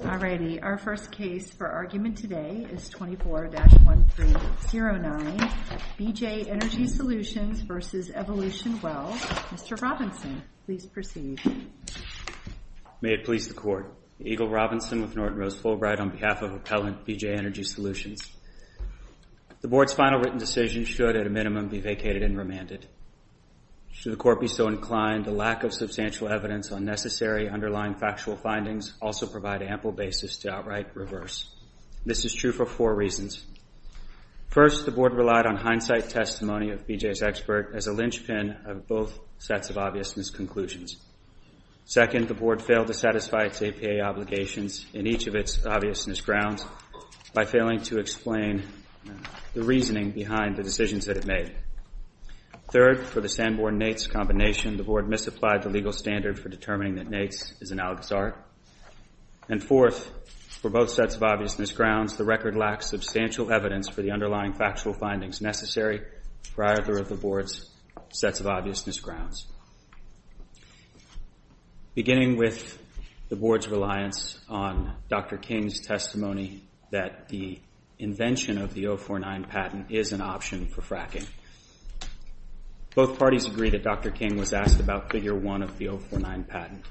Our first case for argument today is 24-1309, BJ Energy Solutions v. Evolution Well. Mr. Robinson, please proceed. May it please the Court. Eagle Robinson with Norton Rose Fulbright on behalf of Appellant BJ Energy Solutions. The Board's final written decision should, at a minimum, be vacated and remanded. Should the Court be so inclined, the lack of substantial evidence on necessary underlying factual findings also provide ample basis to outright reverse. This is true for four reasons. First, the Board relied on hindsight testimony of BJ's expert as a lynchpin of both sets of obvious misconclusions. Second, the Board failed to satisfy its APA obligations in each of its obvious misgrounds by failing to explain the reasoning behind the decisions that it made. Third, for the Sanborn-Nates combination, the Board misapplied the legal standard for determining that Nates is an Al-Ghazari. And fourth, for both sets of obvious misgrounds, the record lacks substantial evidence for the underlying factual findings necessary prior to the Board's sets of obvious misgrounds. Beginning with the Board's reliance on Dr. King's testimony that the invention of the 049 patent is an option for fracking, both parties agree that Dr. King was asked about Figure 1 of the 049 patent.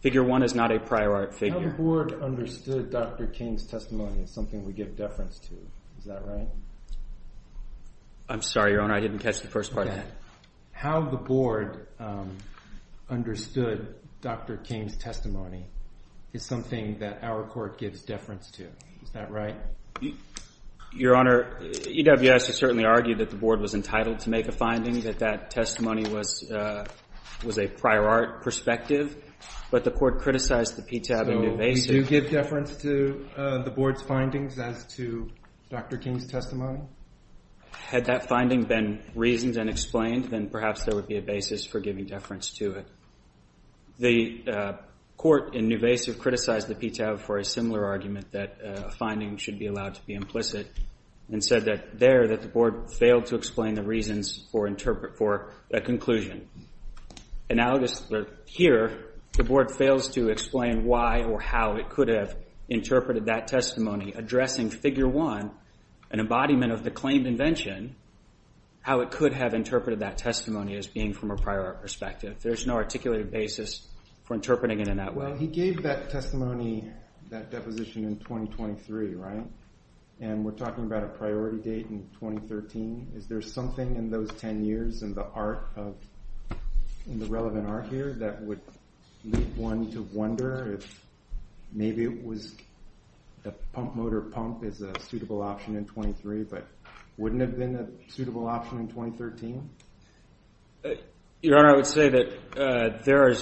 Figure 1 is not a prior art figure. How the Board understood Dr. King's testimony is something we give deference to. Is that right? I'm sorry, Your Honor. I didn't catch the first part of that. How the Board understood Dr. King's testimony is something that our Court gives deference to. Is that right? Your Honor, EWS has certainly argued that the Board was entitled to make a finding that that testimony was a prior art perspective, but the Court criticized the PTAB in New Basic. So we do give deference to the Board's findings as to Dr. King's testimony? Had that finding been reasoned and explained, then perhaps there would be a basis for giving deference to it. The Court in New Basic criticized the PTAB for a similar argument, that a finding should be allowed to be implicit, and said there that the Board failed to explain the reasons for a conclusion. Here, the Board fails to explain why or how it could have interpreted that testimony, addressing Figure 1, an embodiment of the claimed invention, how it could have interpreted that testimony as being from a prior art perspective. There's no articulated basis for interpreting it in that way. Well, he gave that testimony, that deposition, in 2023, right? And we're talking about a priority date in 2013. Is there something in those 10 years in the relevant art here that would lead one to wonder if maybe the pump motor pump is a suitable option in 23, but wouldn't it have been a suitable option in 2013? Your Honor, I would say that there are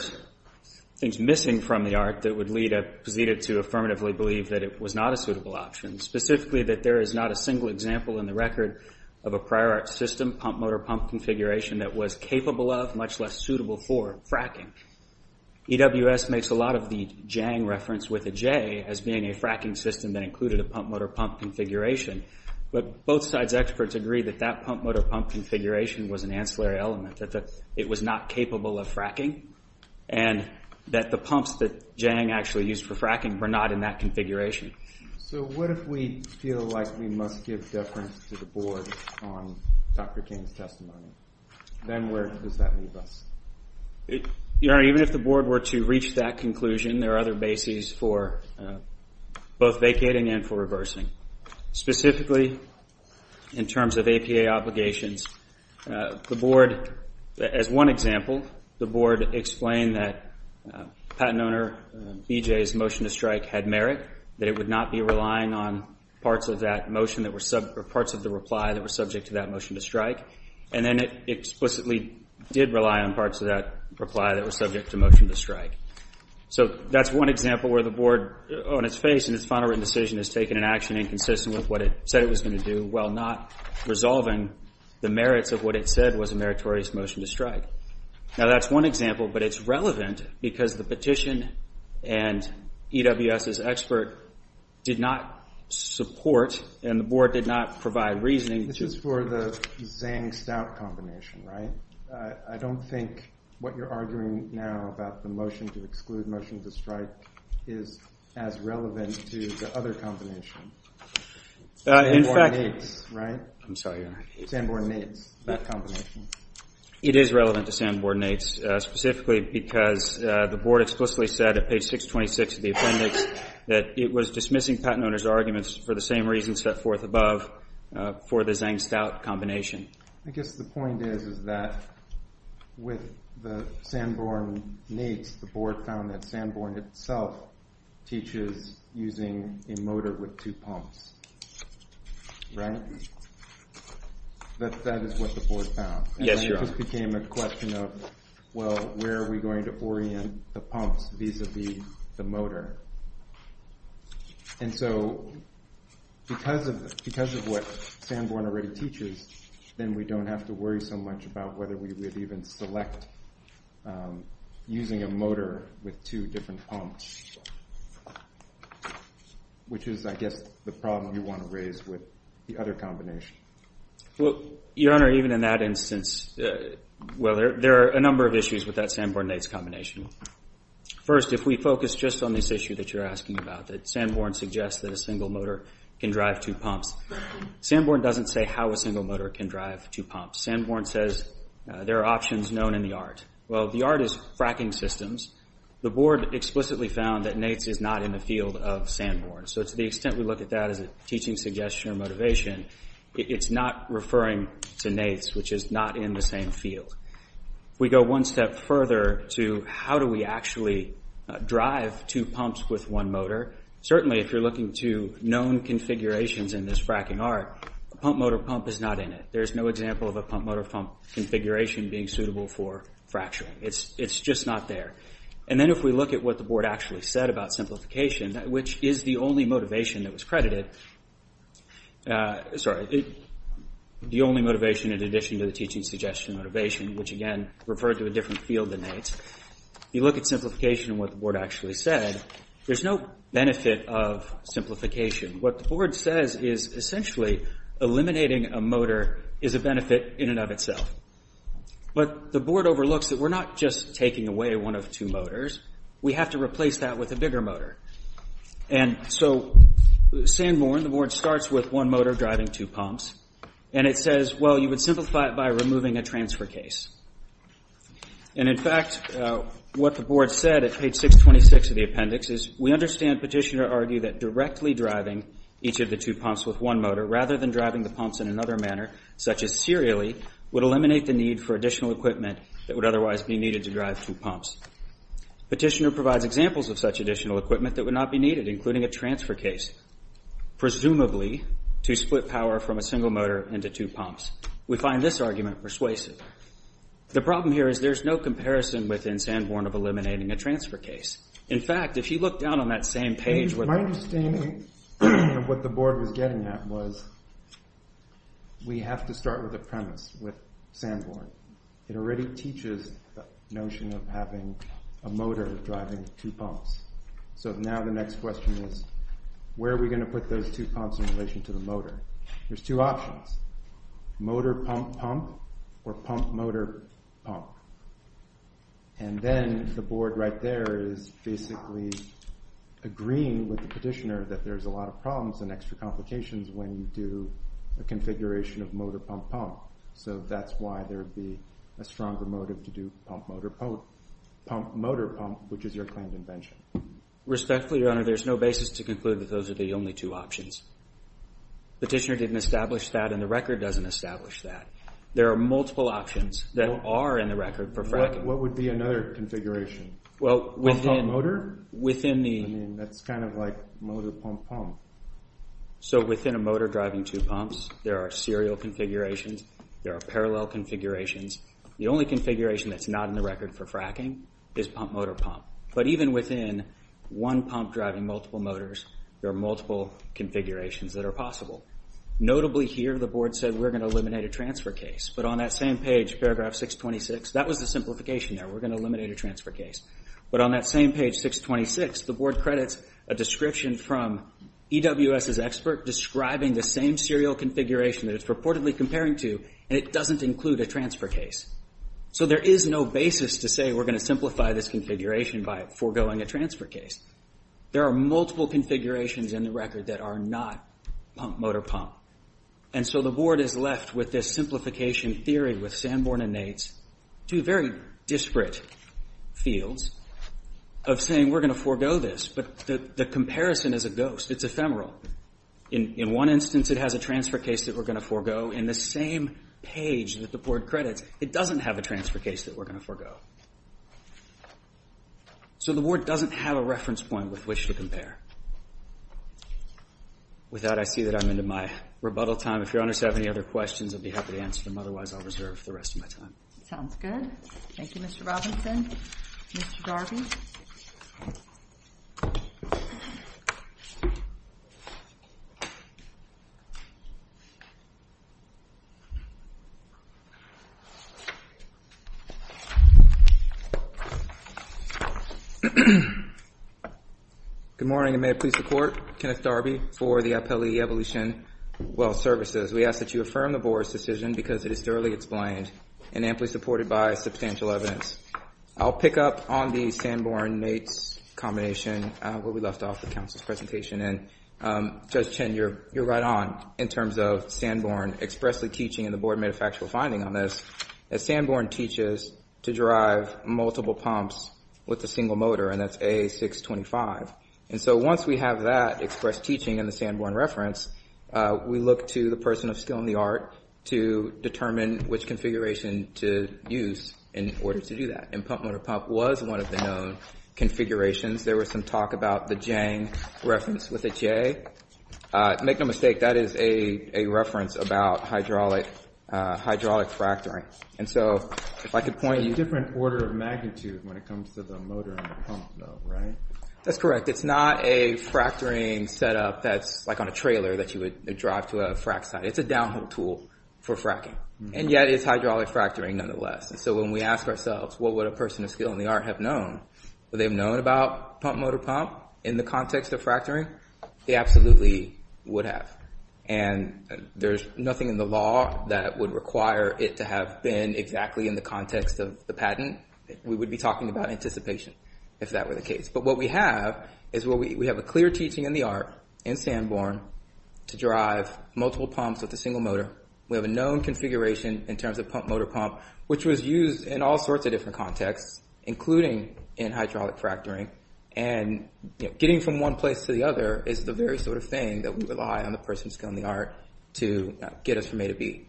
things missing from the art that would lead it to affirmatively believe that it was not a suitable option, specifically that there is not a single example in the record of a prior art system, pump motor pump configuration, that was capable of, much less suitable for, fracking. EWS makes a lot of the JANG reference with a J as being a fracking system that included a pump motor pump configuration, but both sides' experts agree that that pump motor pump configuration was an ancillary element, that it was not capable of fracking, and that the pumps that JANG actually used for fracking were not in that configuration. So what if we feel like we must give deference to the Board on Dr. King's testimony? Then where does that leave us? Your Honor, even if the Board were to reach that conclusion, there are other bases for both vacating and for reversing. Specifically, in terms of APA obligations, the Board, as one example, the Board explained that patent owner BJ's motion to strike had merit, that it would not be relying on parts of the reply that were subject to that motion to strike, and then it explicitly did rely on parts of that reply that were subject to motion to strike. So that's one example where the Board, on its face in its final written decision, has taken an action inconsistent with what it said it was going to do, while not resolving the merits of what it said was a meritorious motion to strike. Now, that's one example, but it's relevant because the petition and EWS's expert did not support, and the Board did not provide reasoning. This is for the Zang-Stout combination, right? I don't think what you're arguing now about the motion to exclude motion to strike is as relevant to the other combination. Sanborn-Nates, right? I'm sorry, Your Honor. Sanborn-Nates, that combination. It is relevant to Sanborn-Nates, specifically because the Board explicitly said at page 626 of the appendix that it was dismissing patent owner's arguments for the same reasons set forth above for the Zang-Stout combination. I guess the point is, is that with the Sanborn-Nates, the Board found that Sanborn itself teaches using a motor with two pumps, right? That is what the Board found. Yes, Your Honor. And it just became a question of, well, where are we going to orient the pumps vis-à-vis the motor? And so because of what Sanborn already teaches, then we don't have to worry so much about whether we would even select using a motor with two different pumps, which is, I guess, the problem you want to raise with the other combination. Well, Your Honor, even in that instance, well, there are a number of issues with that Sanborn-Nates combination. First, if we focus just on this issue that you're asking about, that Sanborn suggests that a single motor can drive two pumps, Sanborn doesn't say how a single motor can drive two pumps. Sanborn says there are options known in the art. Well, the art is fracking systems. The Board explicitly found that Nates is not in the field of Sanborn. So to the extent we look at that as a teaching suggestion or motivation, it's not referring to Nates, which is not in the same field. If we go one step further to how do we actually drive two pumps with one motor, certainly if you're looking to known configurations in this fracking art, a pump motor pump is not in it. There's no example of a pump motor pump configuration being suitable for fracturing. It's just not there. And then if we look at what the Board actually said about simplification, which is the only motivation that was credited, sorry, the only motivation in addition to the teaching suggestion motivation, which again referred to a different field than Nates. If you look at simplification and what the Board actually said, there's no benefit of simplification. What the Board says is essentially eliminating a motor is a benefit in and of itself. But the Board overlooks that we're not just taking away one of two motors. We have to replace that with a bigger motor. And so Sanborn, the Board starts with one motor driving two pumps, and it says, well, you would simplify it by removing a transfer case. And, in fact, what the Board said at page 626 of the appendix is, we understand Petitioner argued that directly driving each of the two pumps with one motor rather than driving the pumps in another manner, such as serially, would eliminate the need for additional equipment that would otherwise be needed to drive two pumps. Petitioner provides examples of such additional equipment that would not be needed, including a transfer case, presumably to split power from a single motor into two pumps. We find this argument persuasive. The problem here is there's no comparison within Sanborn of eliminating a transfer case. In fact, if you look down on that same page. My understanding of what the Board was getting at was, we have to start with a premise with Sanborn. It already teaches the notion of having a motor driving two pumps. So now the next question is, where are we going to put those two pumps in relation to the motor? There's two options, motor-pump-pump or pump-motor-pump. And then the Board right there is basically agreeing with the Petitioner that there's a lot of problems and extra complications when you do a configuration of motor-pump-pump. So that's why there would be a stronger motive to do pump-motor-pump, which is your claimed invention. Respectfully, Your Honor, there's no basis to conclude that those are the only two options. Petitioner didn't establish that and the record doesn't establish that. There are multiple options that are in the record for fracking. What would be another configuration? Pump-pump-motor? That's kind of like motor-pump-pump. So within a motor driving two pumps, there are serial configurations. There are parallel configurations. The only configuration that's not in the record for fracking is pump-motor-pump. But even within one pump driving multiple motors, there are multiple configurations that are possible. Notably here, the Board said we're going to eliminate a transfer case. But on that same page, paragraph 626, that was the simplification there. We're going to eliminate a transfer case. But on that same page, 626, the Board credits a description from EWS's expert describing the same serial configuration that it's purportedly comparing to, and it doesn't include a transfer case. So there is no basis to say we're going to simplify this configuration by foregoing a transfer case. There are multiple configurations in the record that are not pump-motor-pump. And so the Board is left with this simplification theory with Sanborn and Nates, two very disparate fields, of saying we're going to forego this. But the comparison is a ghost. It's ephemeral. In one instance, it has a transfer case that we're going to forego. In the same page that the Board credits, it doesn't have a transfer case that we're going to forego. So the Board doesn't have a reference point with which to compare. With that, I see that I'm into my rebuttal time. If Your Honors have any other questions, I'd be happy to answer them. Otherwise, I'll reserve the rest of my time. Sounds good. Thank you, Mr. Robinson. Mr. Darby. Good morning, and may it please the Court. Kenneth Darby for the Appellee Evolution Wealth Services. We ask that you affirm the Board's decision because it is thoroughly explained and amply supported by substantial evidence. I'll pick up on the Sanborn-Nates combination where we left off with counsel's presentation. And, Judge Chen, you're right on in terms of Sanborn expressly teaching, and the Board made a factual finding on this, that Sanborn teaches to drive multiple pumps with a single motor, and that's A625. And so once we have that expressed teaching in the Sanborn reference, we look to the person of skill and the art to determine which configuration to use in order to do that. And pump-motor-pump was one of the known configurations. There was some talk about the Jang reference with a J. Make no mistake, that is a reference about hydraulic fracturing. And so if I could point you- It's a different order of magnitude when it comes to the motor and the pump, though, right? That's correct. It's not a fracturing setup that's like on a trailer that you would drive to a frac site. It's a downhill tool for fracking, and yet it's hydraulic fracturing nonetheless. And so when we ask ourselves, what would a person of skill and the art have known, would they have known about pump-motor-pump in the context of fracturing? They absolutely would have. And there's nothing in the law that would require it to have been exactly in the context of the patent. We would be talking about anticipation if that were the case. But what we have is we have a clear teaching in the art in Sanborn to drive multiple pumps with a single motor. We have a known configuration in terms of pump-motor-pump, which was used in all sorts of different contexts, including in hydraulic fracturing. And getting from one place to the other is the very sort of thing that we rely on the person of skill and the art to get us from A to B.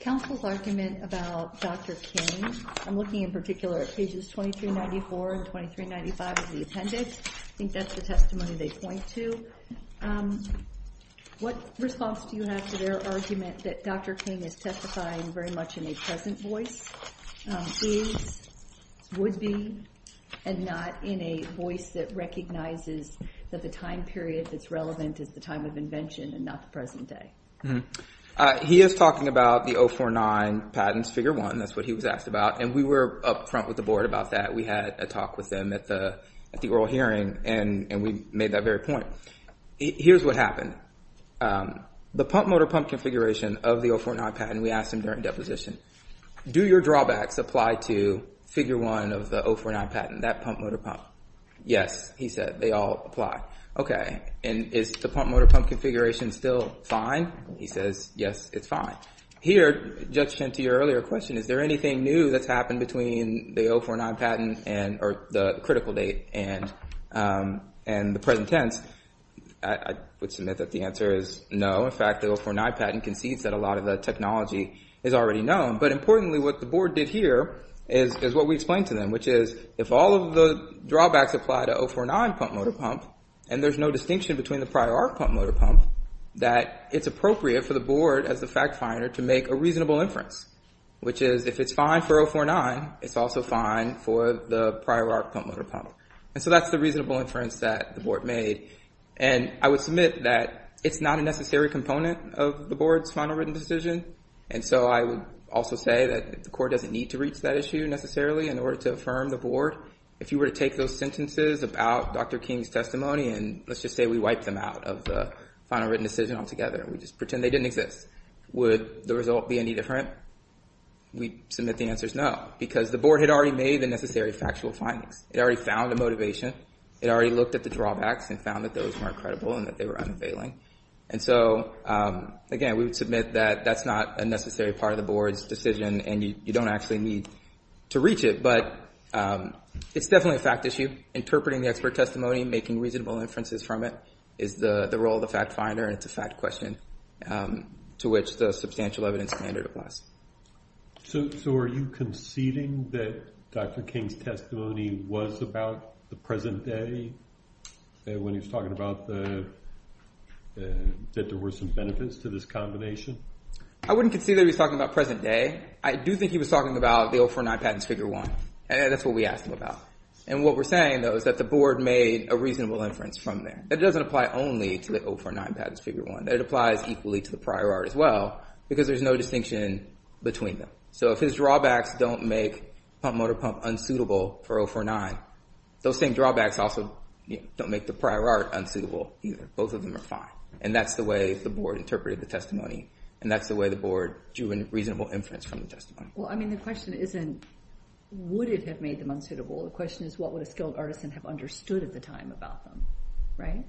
Counsel's argument about Dr. King, I'm looking in particular at pages 2394 and 2395 of the appendix. I think that's the testimony they point to. What response do you have to their argument that Dr. King is testifying very much in a present voice, is, would be, and not in a voice that recognizes that the time period that's relevant is the time of invention and not the present day? He is talking about the 049 patents, figure one. That's what he was asked about, and we were up front with the board about that. We had a talk with them at the oral hearing, and we made that very point. Here's what happened. The pump-motor-pump configuration of the 049 patent, we asked him during deposition, do your drawbacks apply to figure one of the 049 patent, that pump-motor-pump? Yes, he said, they all apply. Okay, and is the pump-motor-pump configuration still fine? He says, yes, it's fine. Here, in addition to your earlier question, is there anything new that's happened between the 049 patent and the critical date and the present tense? I would submit that the answer is no. In fact, the 049 patent concedes that a lot of the technology is already known. But importantly, what the board did here is what we explained to them, which is if all of the drawbacks apply to 049 pump-motor-pump, and there's no distinction between the prior pump-motor-pump, that it's appropriate for the board, as the fact finder, to make a reasonable inference, which is if it's fine for 049, it's also fine for the prior pump-motor-pump. And so that's the reasonable inference that the board made. And I would submit that it's not a necessary component of the board's final written decision. And so I would also say that the court doesn't need to reach that issue necessarily in order to affirm the board. If you were to take those sentences about Dr. King's testimony, and let's just say we wipe them out of the final written decision altogether, and we just pretend they didn't exist, would the result be any different? We submit the answer is no, because the board had already made the necessary factual findings. It already found the motivation. It already looked at the drawbacks and found that those weren't credible and that they were unavailing. And so, again, we would submit that that's not a necessary part of the board's decision, and you don't actually need to reach it. But it's definitely a fact issue. Interpreting the expert testimony and making reasonable inferences from it is the role of the fact finder, and it's a fact question to which the substantial evidence standard applies. So are you conceding that Dr. King's testimony was about the present day, when he was talking about that there were some benefits to this combination? I wouldn't concede that he was talking about present day. I do think he was talking about the 049 Patents Figure 1, and that's what we asked him about. And what we're saying, though, is that the board made a reasonable inference from there. It doesn't apply only to the 049 Patents Figure 1. It applies equally to the prior art as well because there's no distinction between them. So if his drawbacks don't make pump motor pump unsuitable for 049, those same drawbacks also don't make the prior art unsuitable either. Both of them are fine, and that's the way the board interpreted the testimony, and that's the way the board drew a reasonable inference from the testimony. Well, I mean, the question isn't would it have made them unsuitable. The question is what would a skilled artisan have understood at the time about them, right?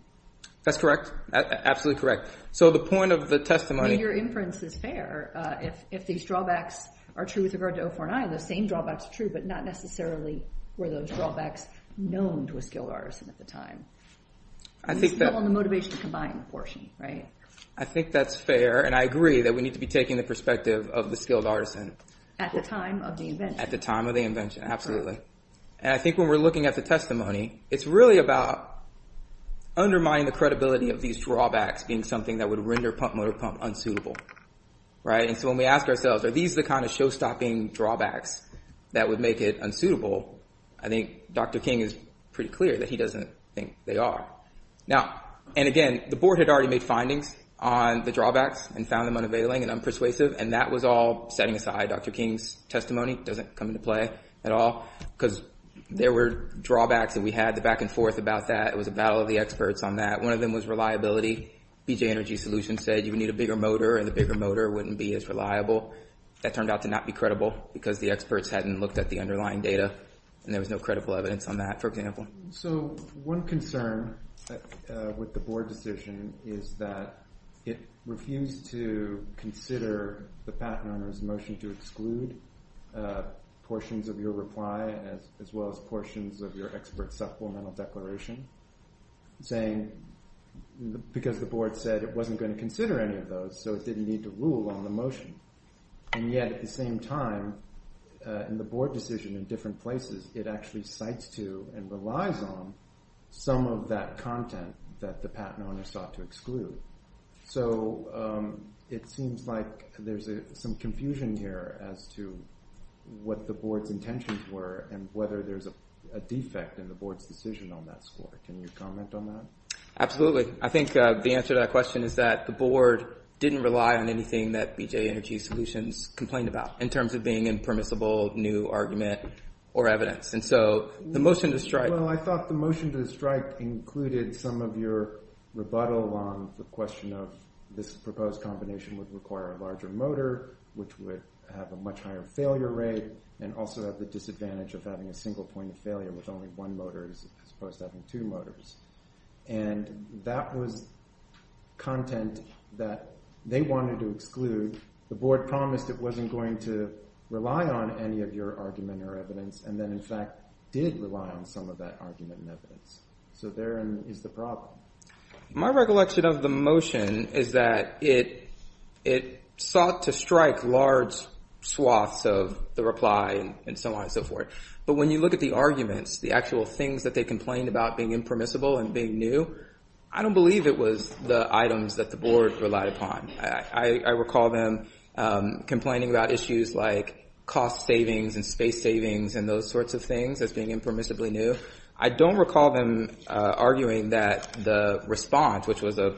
That's correct. Absolutely correct. So the point of the testimony— I mean, your inference is fair. If these drawbacks are true with regard to 049, those same drawbacks are true, but not necessarily were those drawbacks known to a skilled artisan at the time. I think that— It's still on the motivation to combine portion, right? I think that's fair, and I agree that we need to be taking the perspective of the skilled artisan— At the time of the invention. Absolutely. And I think when we're looking at the testimony, it's really about undermining the credibility of these drawbacks being something that would render pump-motor-pump unsuitable, right? And so when we ask ourselves are these the kind of show-stopping drawbacks that would make it unsuitable, I think Dr. King is pretty clear that he doesn't think they are. Now—and again, the board had already made findings on the drawbacks and found them unavailing and unpersuasive, and that was all setting aside Dr. King's testimony. It doesn't come into play at all because there were drawbacks that we had, the back-and-forth about that. It was a battle of the experts on that. One of them was reliability. BJ Energy Solutions said you need a bigger motor, and the bigger motor wouldn't be as reliable. That turned out to not be credible because the experts hadn't looked at the underlying data, and there was no credible evidence on that, for example. So one concern with the board decision is that it refused to consider the patent owner's motion to exclude portions of your reply as well as portions of your expert supplemental declaration because the board said it wasn't going to consider any of those, so it didn't need to rule on the motion. And yet at the same time, in the board decision in different places, it actually cites to and relies on some of that content that the patent owner sought to exclude. So it seems like there's some confusion here as to what the board's intentions were and whether there's a defect in the board's decision on that score. Can you comment on that? Absolutely. I think the answer to that question is that the board didn't rely on anything that BJ Energy Solutions complained about in terms of being impermissible, new argument, or evidence. And so the motion to strike— Well, I thought the motion to strike included some of your rebuttal on the question of this proposed combination would require a larger motor, which would have a much higher failure rate, and also have the disadvantage of having a single point of failure with only one motor as opposed to having two motors. And that was content that they wanted to exclude. The board promised it wasn't going to rely on any of your argument or evidence and then, in fact, did rely on some of that argument and evidence. So therein is the problem. My recollection of the motion is that it sought to strike large swaths of the reply and so on and so forth. But when you look at the arguments, the actual things that they complained about being impermissible and being new, I don't believe it was the items that the board relied upon. I recall them complaining about issues like cost savings and space savings and those sorts of things as being impermissibly new. I don't recall them arguing that the response, which was a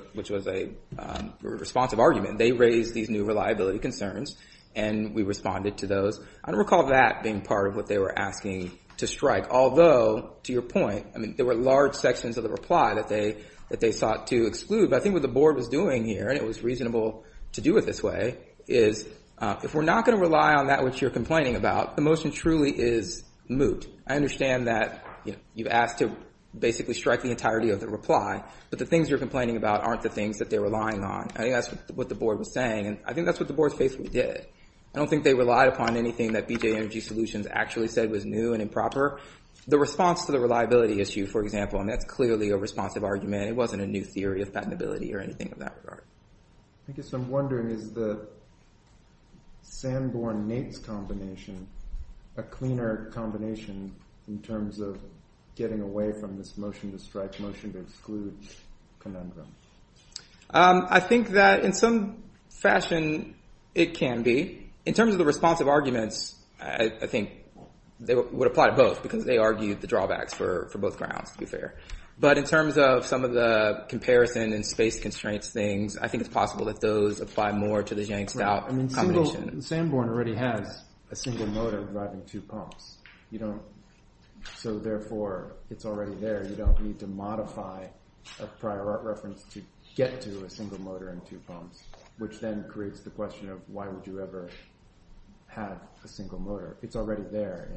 responsive argument, they raised these new reliability concerns, and we responded to those. I don't recall that being part of what they were asking to strike, although, to your point, I mean, there were large sections of the reply that they sought to exclude. But I think what the board was doing here, and it was reasonable to do it this way, is if we're not going to rely on that which you're complaining about, the motion truly is moot. I understand that you've asked to basically strike the entirety of the reply, but the things you're complaining about aren't the things that they're relying on. I think that's what the board was saying, and I think that's what the board's faithfully did. I don't think they relied upon anything that BJ Energy Solutions actually said was new and improper. The response to the reliability issue, for example, and that's clearly a responsive argument. It wasn't a new theory of patentability or anything of that regard. I guess I'm wondering, is the Sanborn-Nates combination a cleaner combination in terms of getting away from this motion to strike motion to exclude conundrum? I think that in some fashion it can be. In terms of the responsive arguments, I think they would apply to both because they argued the drawbacks for both grounds, to be fair. But in terms of some of the comparison and space constraints things, I think it's possible that those apply more to the Jank Stout combination. Sanborn already has a single motor driving two pumps, so therefore it's already there. You don't need to modify a prior art reference to get to a single motor and two pumps, which then creates the question of why would you ever have a single motor. It's already there.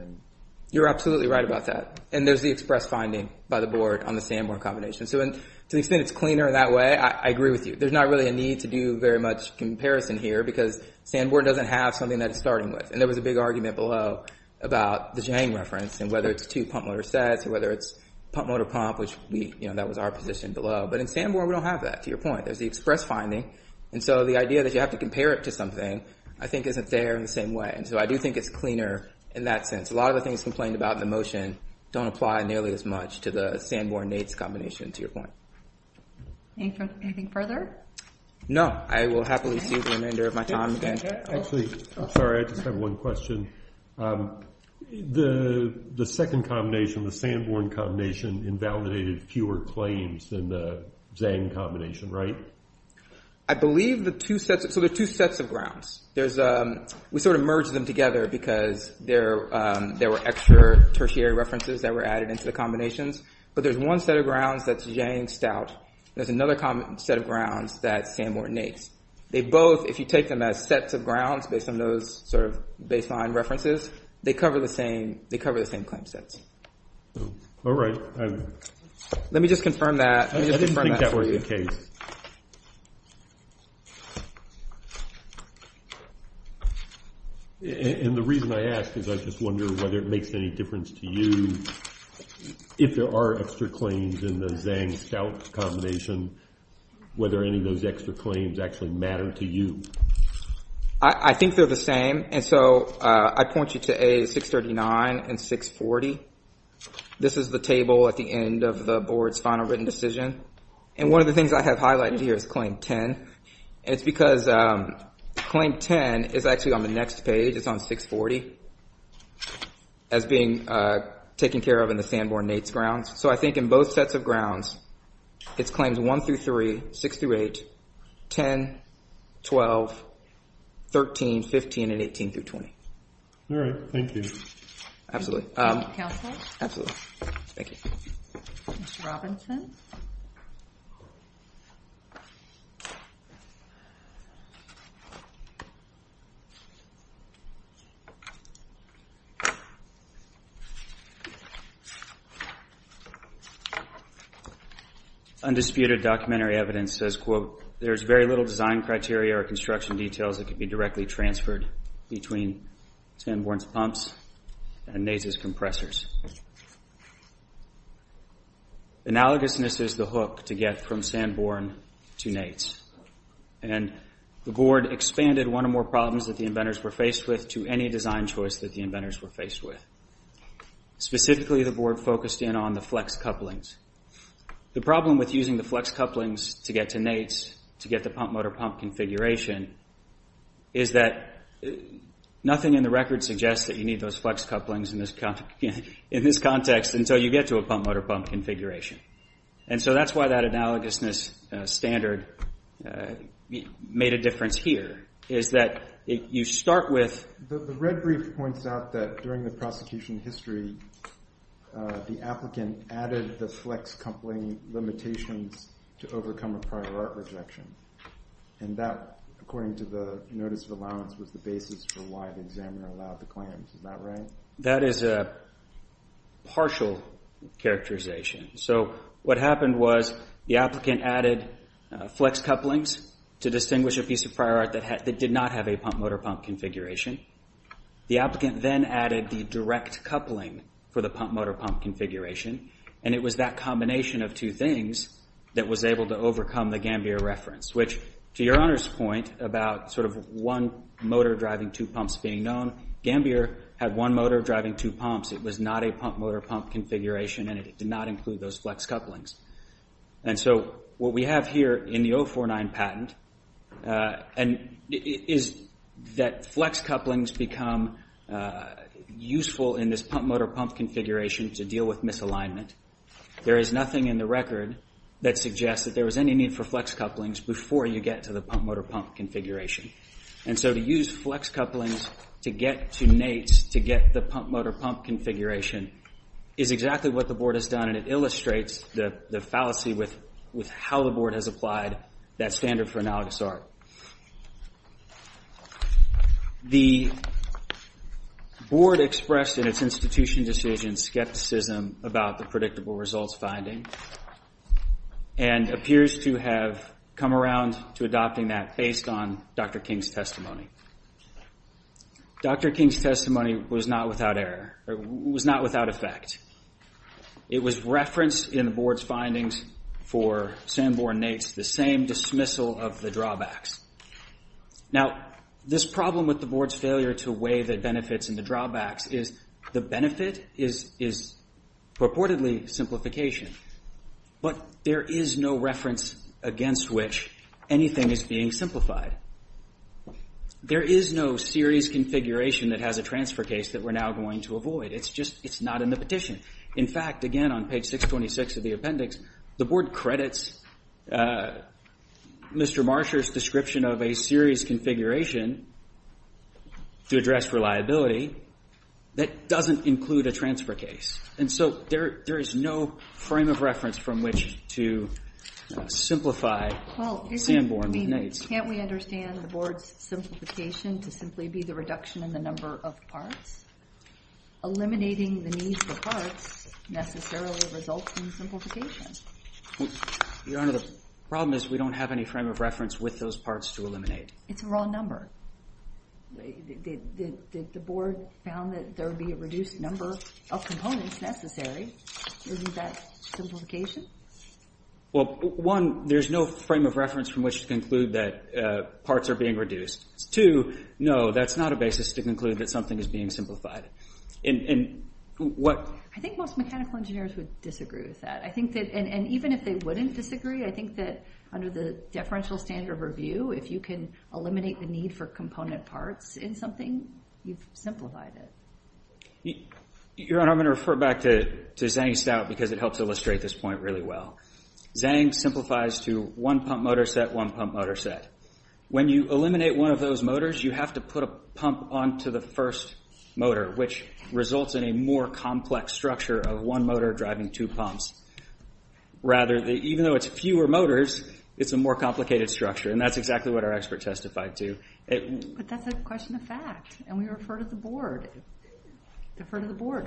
You're absolutely right about that. And there's the express finding by the board on the Sanborn combination. So to the extent it's cleaner in that way, I agree with you. There's not really a need to do very much comparison here because Sanborn doesn't have something that it's starting with. And there was a big argument below about the Jank reference and whether it's two pump motor sets or whether it's pump motor pump, which that was our position below. But in Sanborn we don't have that, to your point. There's the express finding. And so the idea that you have to compare it to something I think isn't there in the same way. And so I do think it's cleaner in that sense. A lot of the things complained about in the motion don't apply nearly as much to the Sanborn-Nates combination, to your point. Anything further? No. I will happily see the remainder of my time then. Actually, I'm sorry. I just have one question. The second combination, the Sanborn combination, invalidated fewer claims than the Zang combination, right? I believe the two sets. So there are two sets of grounds. We sort of merged them together because there were extra tertiary references that were added into the combinations. But there's one set of grounds that's Zang-Stout. There's another set of grounds that's Sanborn-Nates. They both, if you take them as sets of grounds based on those sort of baseline references, they cover the same claim sets. All right. Let me just confirm that for you. Okay. And the reason I ask is I just wonder whether it makes any difference to you if there are extra claims in the Zang-Stout combination, whether any of those extra claims actually matter to you. I think they're the same. And so I point you to A, 639 and 640. This is the table at the end of the board's final written decision. And one of the things I have highlighted here is Claim 10. It's because Claim 10 is actually on the next page. It's on 640 as being taken care of in the Sanborn-Nates grounds. So I think in both sets of grounds, it's Claims 1 through 3, 6 through 8, 10, 12, 13, 15, and 18 through 20. All right. Thank you. Absolutely. Thank you, Counsel. Absolutely. Thank you. Mr. Robinson. Undisputed documentary evidence says, quote, there's very little design criteria or construction details that could be directly transferred between Sanborn's pumps and Nates' compressors. Analogousness is the hook to get from Sanborn to Nates. And the board expanded one or more problems that the inventors were faced with to any design choice that the inventors were faced with. Specifically, the board focused in on the flex couplings. The problem with using the flex couplings to get to Nates to get the pump-motor-pump configuration is that nothing in the record suggests that you need those flex couplings in this context until you get to a pump-motor-pump configuration. And so that's why that analogousness standard made a difference here, is that you start with The red brief points out that during the prosecution history, the applicant added the flex coupling limitations to overcome a prior art rejection. And that, according to the notice of allowance, was the basis for why the examiner allowed the claims. Is that right? That is a partial characterization. So what happened was the applicant added flex couplings to distinguish a piece of prior art that did not have a pump-motor-pump configuration. The applicant then added the direct coupling for the pump-motor-pump configuration, and it was that combination of two things that was able to overcome the Gambier reference, which, to your Honor's point about sort of one motor driving two pumps being known, Gambier had one motor driving two pumps. It was not a pump-motor-pump configuration, and it did not include those flex couplings. And so what we have here in the 049 patent is that flex couplings become useful in this pump-motor-pump configuration to deal with misalignment. There is nothing in the record that suggests that there was any need for flex couplings before you get to the pump-motor-pump configuration. And so to use flex couplings to get to Nate's to get the pump-motor-pump configuration is exactly what the Board has done, and it illustrates the fallacy with how the Board has applied that standard for analogous art. The Board expressed in its institution decision skepticism about the predictable results finding and appears to have come around to adopting that based on Dr. King's testimony. Dr. King's testimony was not without effect. It was referenced in the Board's findings for Sanborn and Nate's, the same dismissal of the drawbacks. Now, this problem with the Board's failure to weigh the benefits and the drawbacks is the benefit is purportedly simplification, but there is no reference against which anything is being simplified. There is no series configuration that has a transfer case that we're now going to avoid. It's just not in the petition. In fact, again, on page 626 of the appendix, the Board credits Mr. Marsher's description of a series configuration to address reliability that doesn't include a transfer case. And so there is no frame of reference from which to simplify Sanborn and Nate's. Can't we understand the Board's simplification to simply be the reduction in the number of parts? Eliminating the need for parts necessarily results in simplification. Your Honor, the problem is we don't have any frame of reference with those parts to eliminate. It's a raw number. The Board found that there would be a reduced number of components necessary. Isn't that simplification? Well, one, there's no frame of reference from which to conclude that parts are being reduced. Two, no, that's not a basis to conclude that something is being simplified. I think most mechanical engineers would disagree with that. And even if they wouldn't disagree, I think that under the deferential standard of review, if you can eliminate the need for component parts in something, you've simplified it. Your Honor, I'm going to refer back to Zhang Stout because it helps illustrate this point really well. Zhang simplifies to one pump motor set, one pump motor set. When you eliminate one of those motors, you have to put a pump onto the first motor, which results in a more complex structure of one motor driving two pumps. Rather, even though it's fewer motors, it's a more complicated structure, and that's exactly what our expert testified to. But that's a question of fact, and we refer to the Board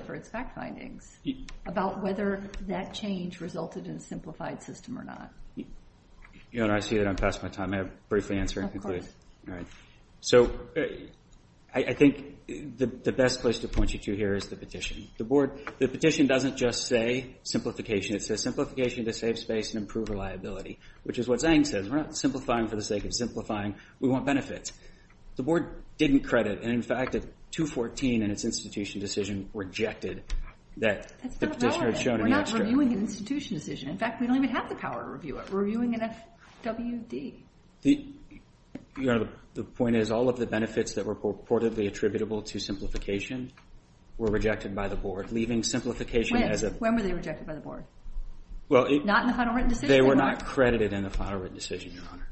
for its fact findings about whether that change resulted in a simplified system or not. Your Honor, I see that I'm passing my time. May I briefly answer and conclude? All right. So I think the best place to point you to here is the petition. The petition doesn't just say simplification. It says simplification to save space and improve reliability, which is what Zhang says. We're not simplifying for the sake of simplifying. We want benefits. The Board didn't credit, and in fact, at 214 in its institution decision, rejected that. That's not relevant. We're not reviewing an institution decision. In fact, we don't even have the power to review it. We're reviewing an FWD. Your Honor, the point is all of the benefits that were purportedly attributable to simplification were rejected by the Board, leaving simplification as a— When were they rejected by the Board? Not in the final written decision? Not in the final written decision, Your Honor.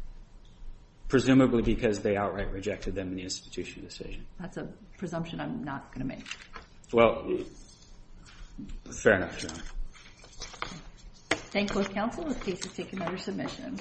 Presumably because they outright rejected them in the institution decision. That's a presumption I'm not going to make. Well, fair enough, Your Honor. Thank both counsel. The case is taken under submission.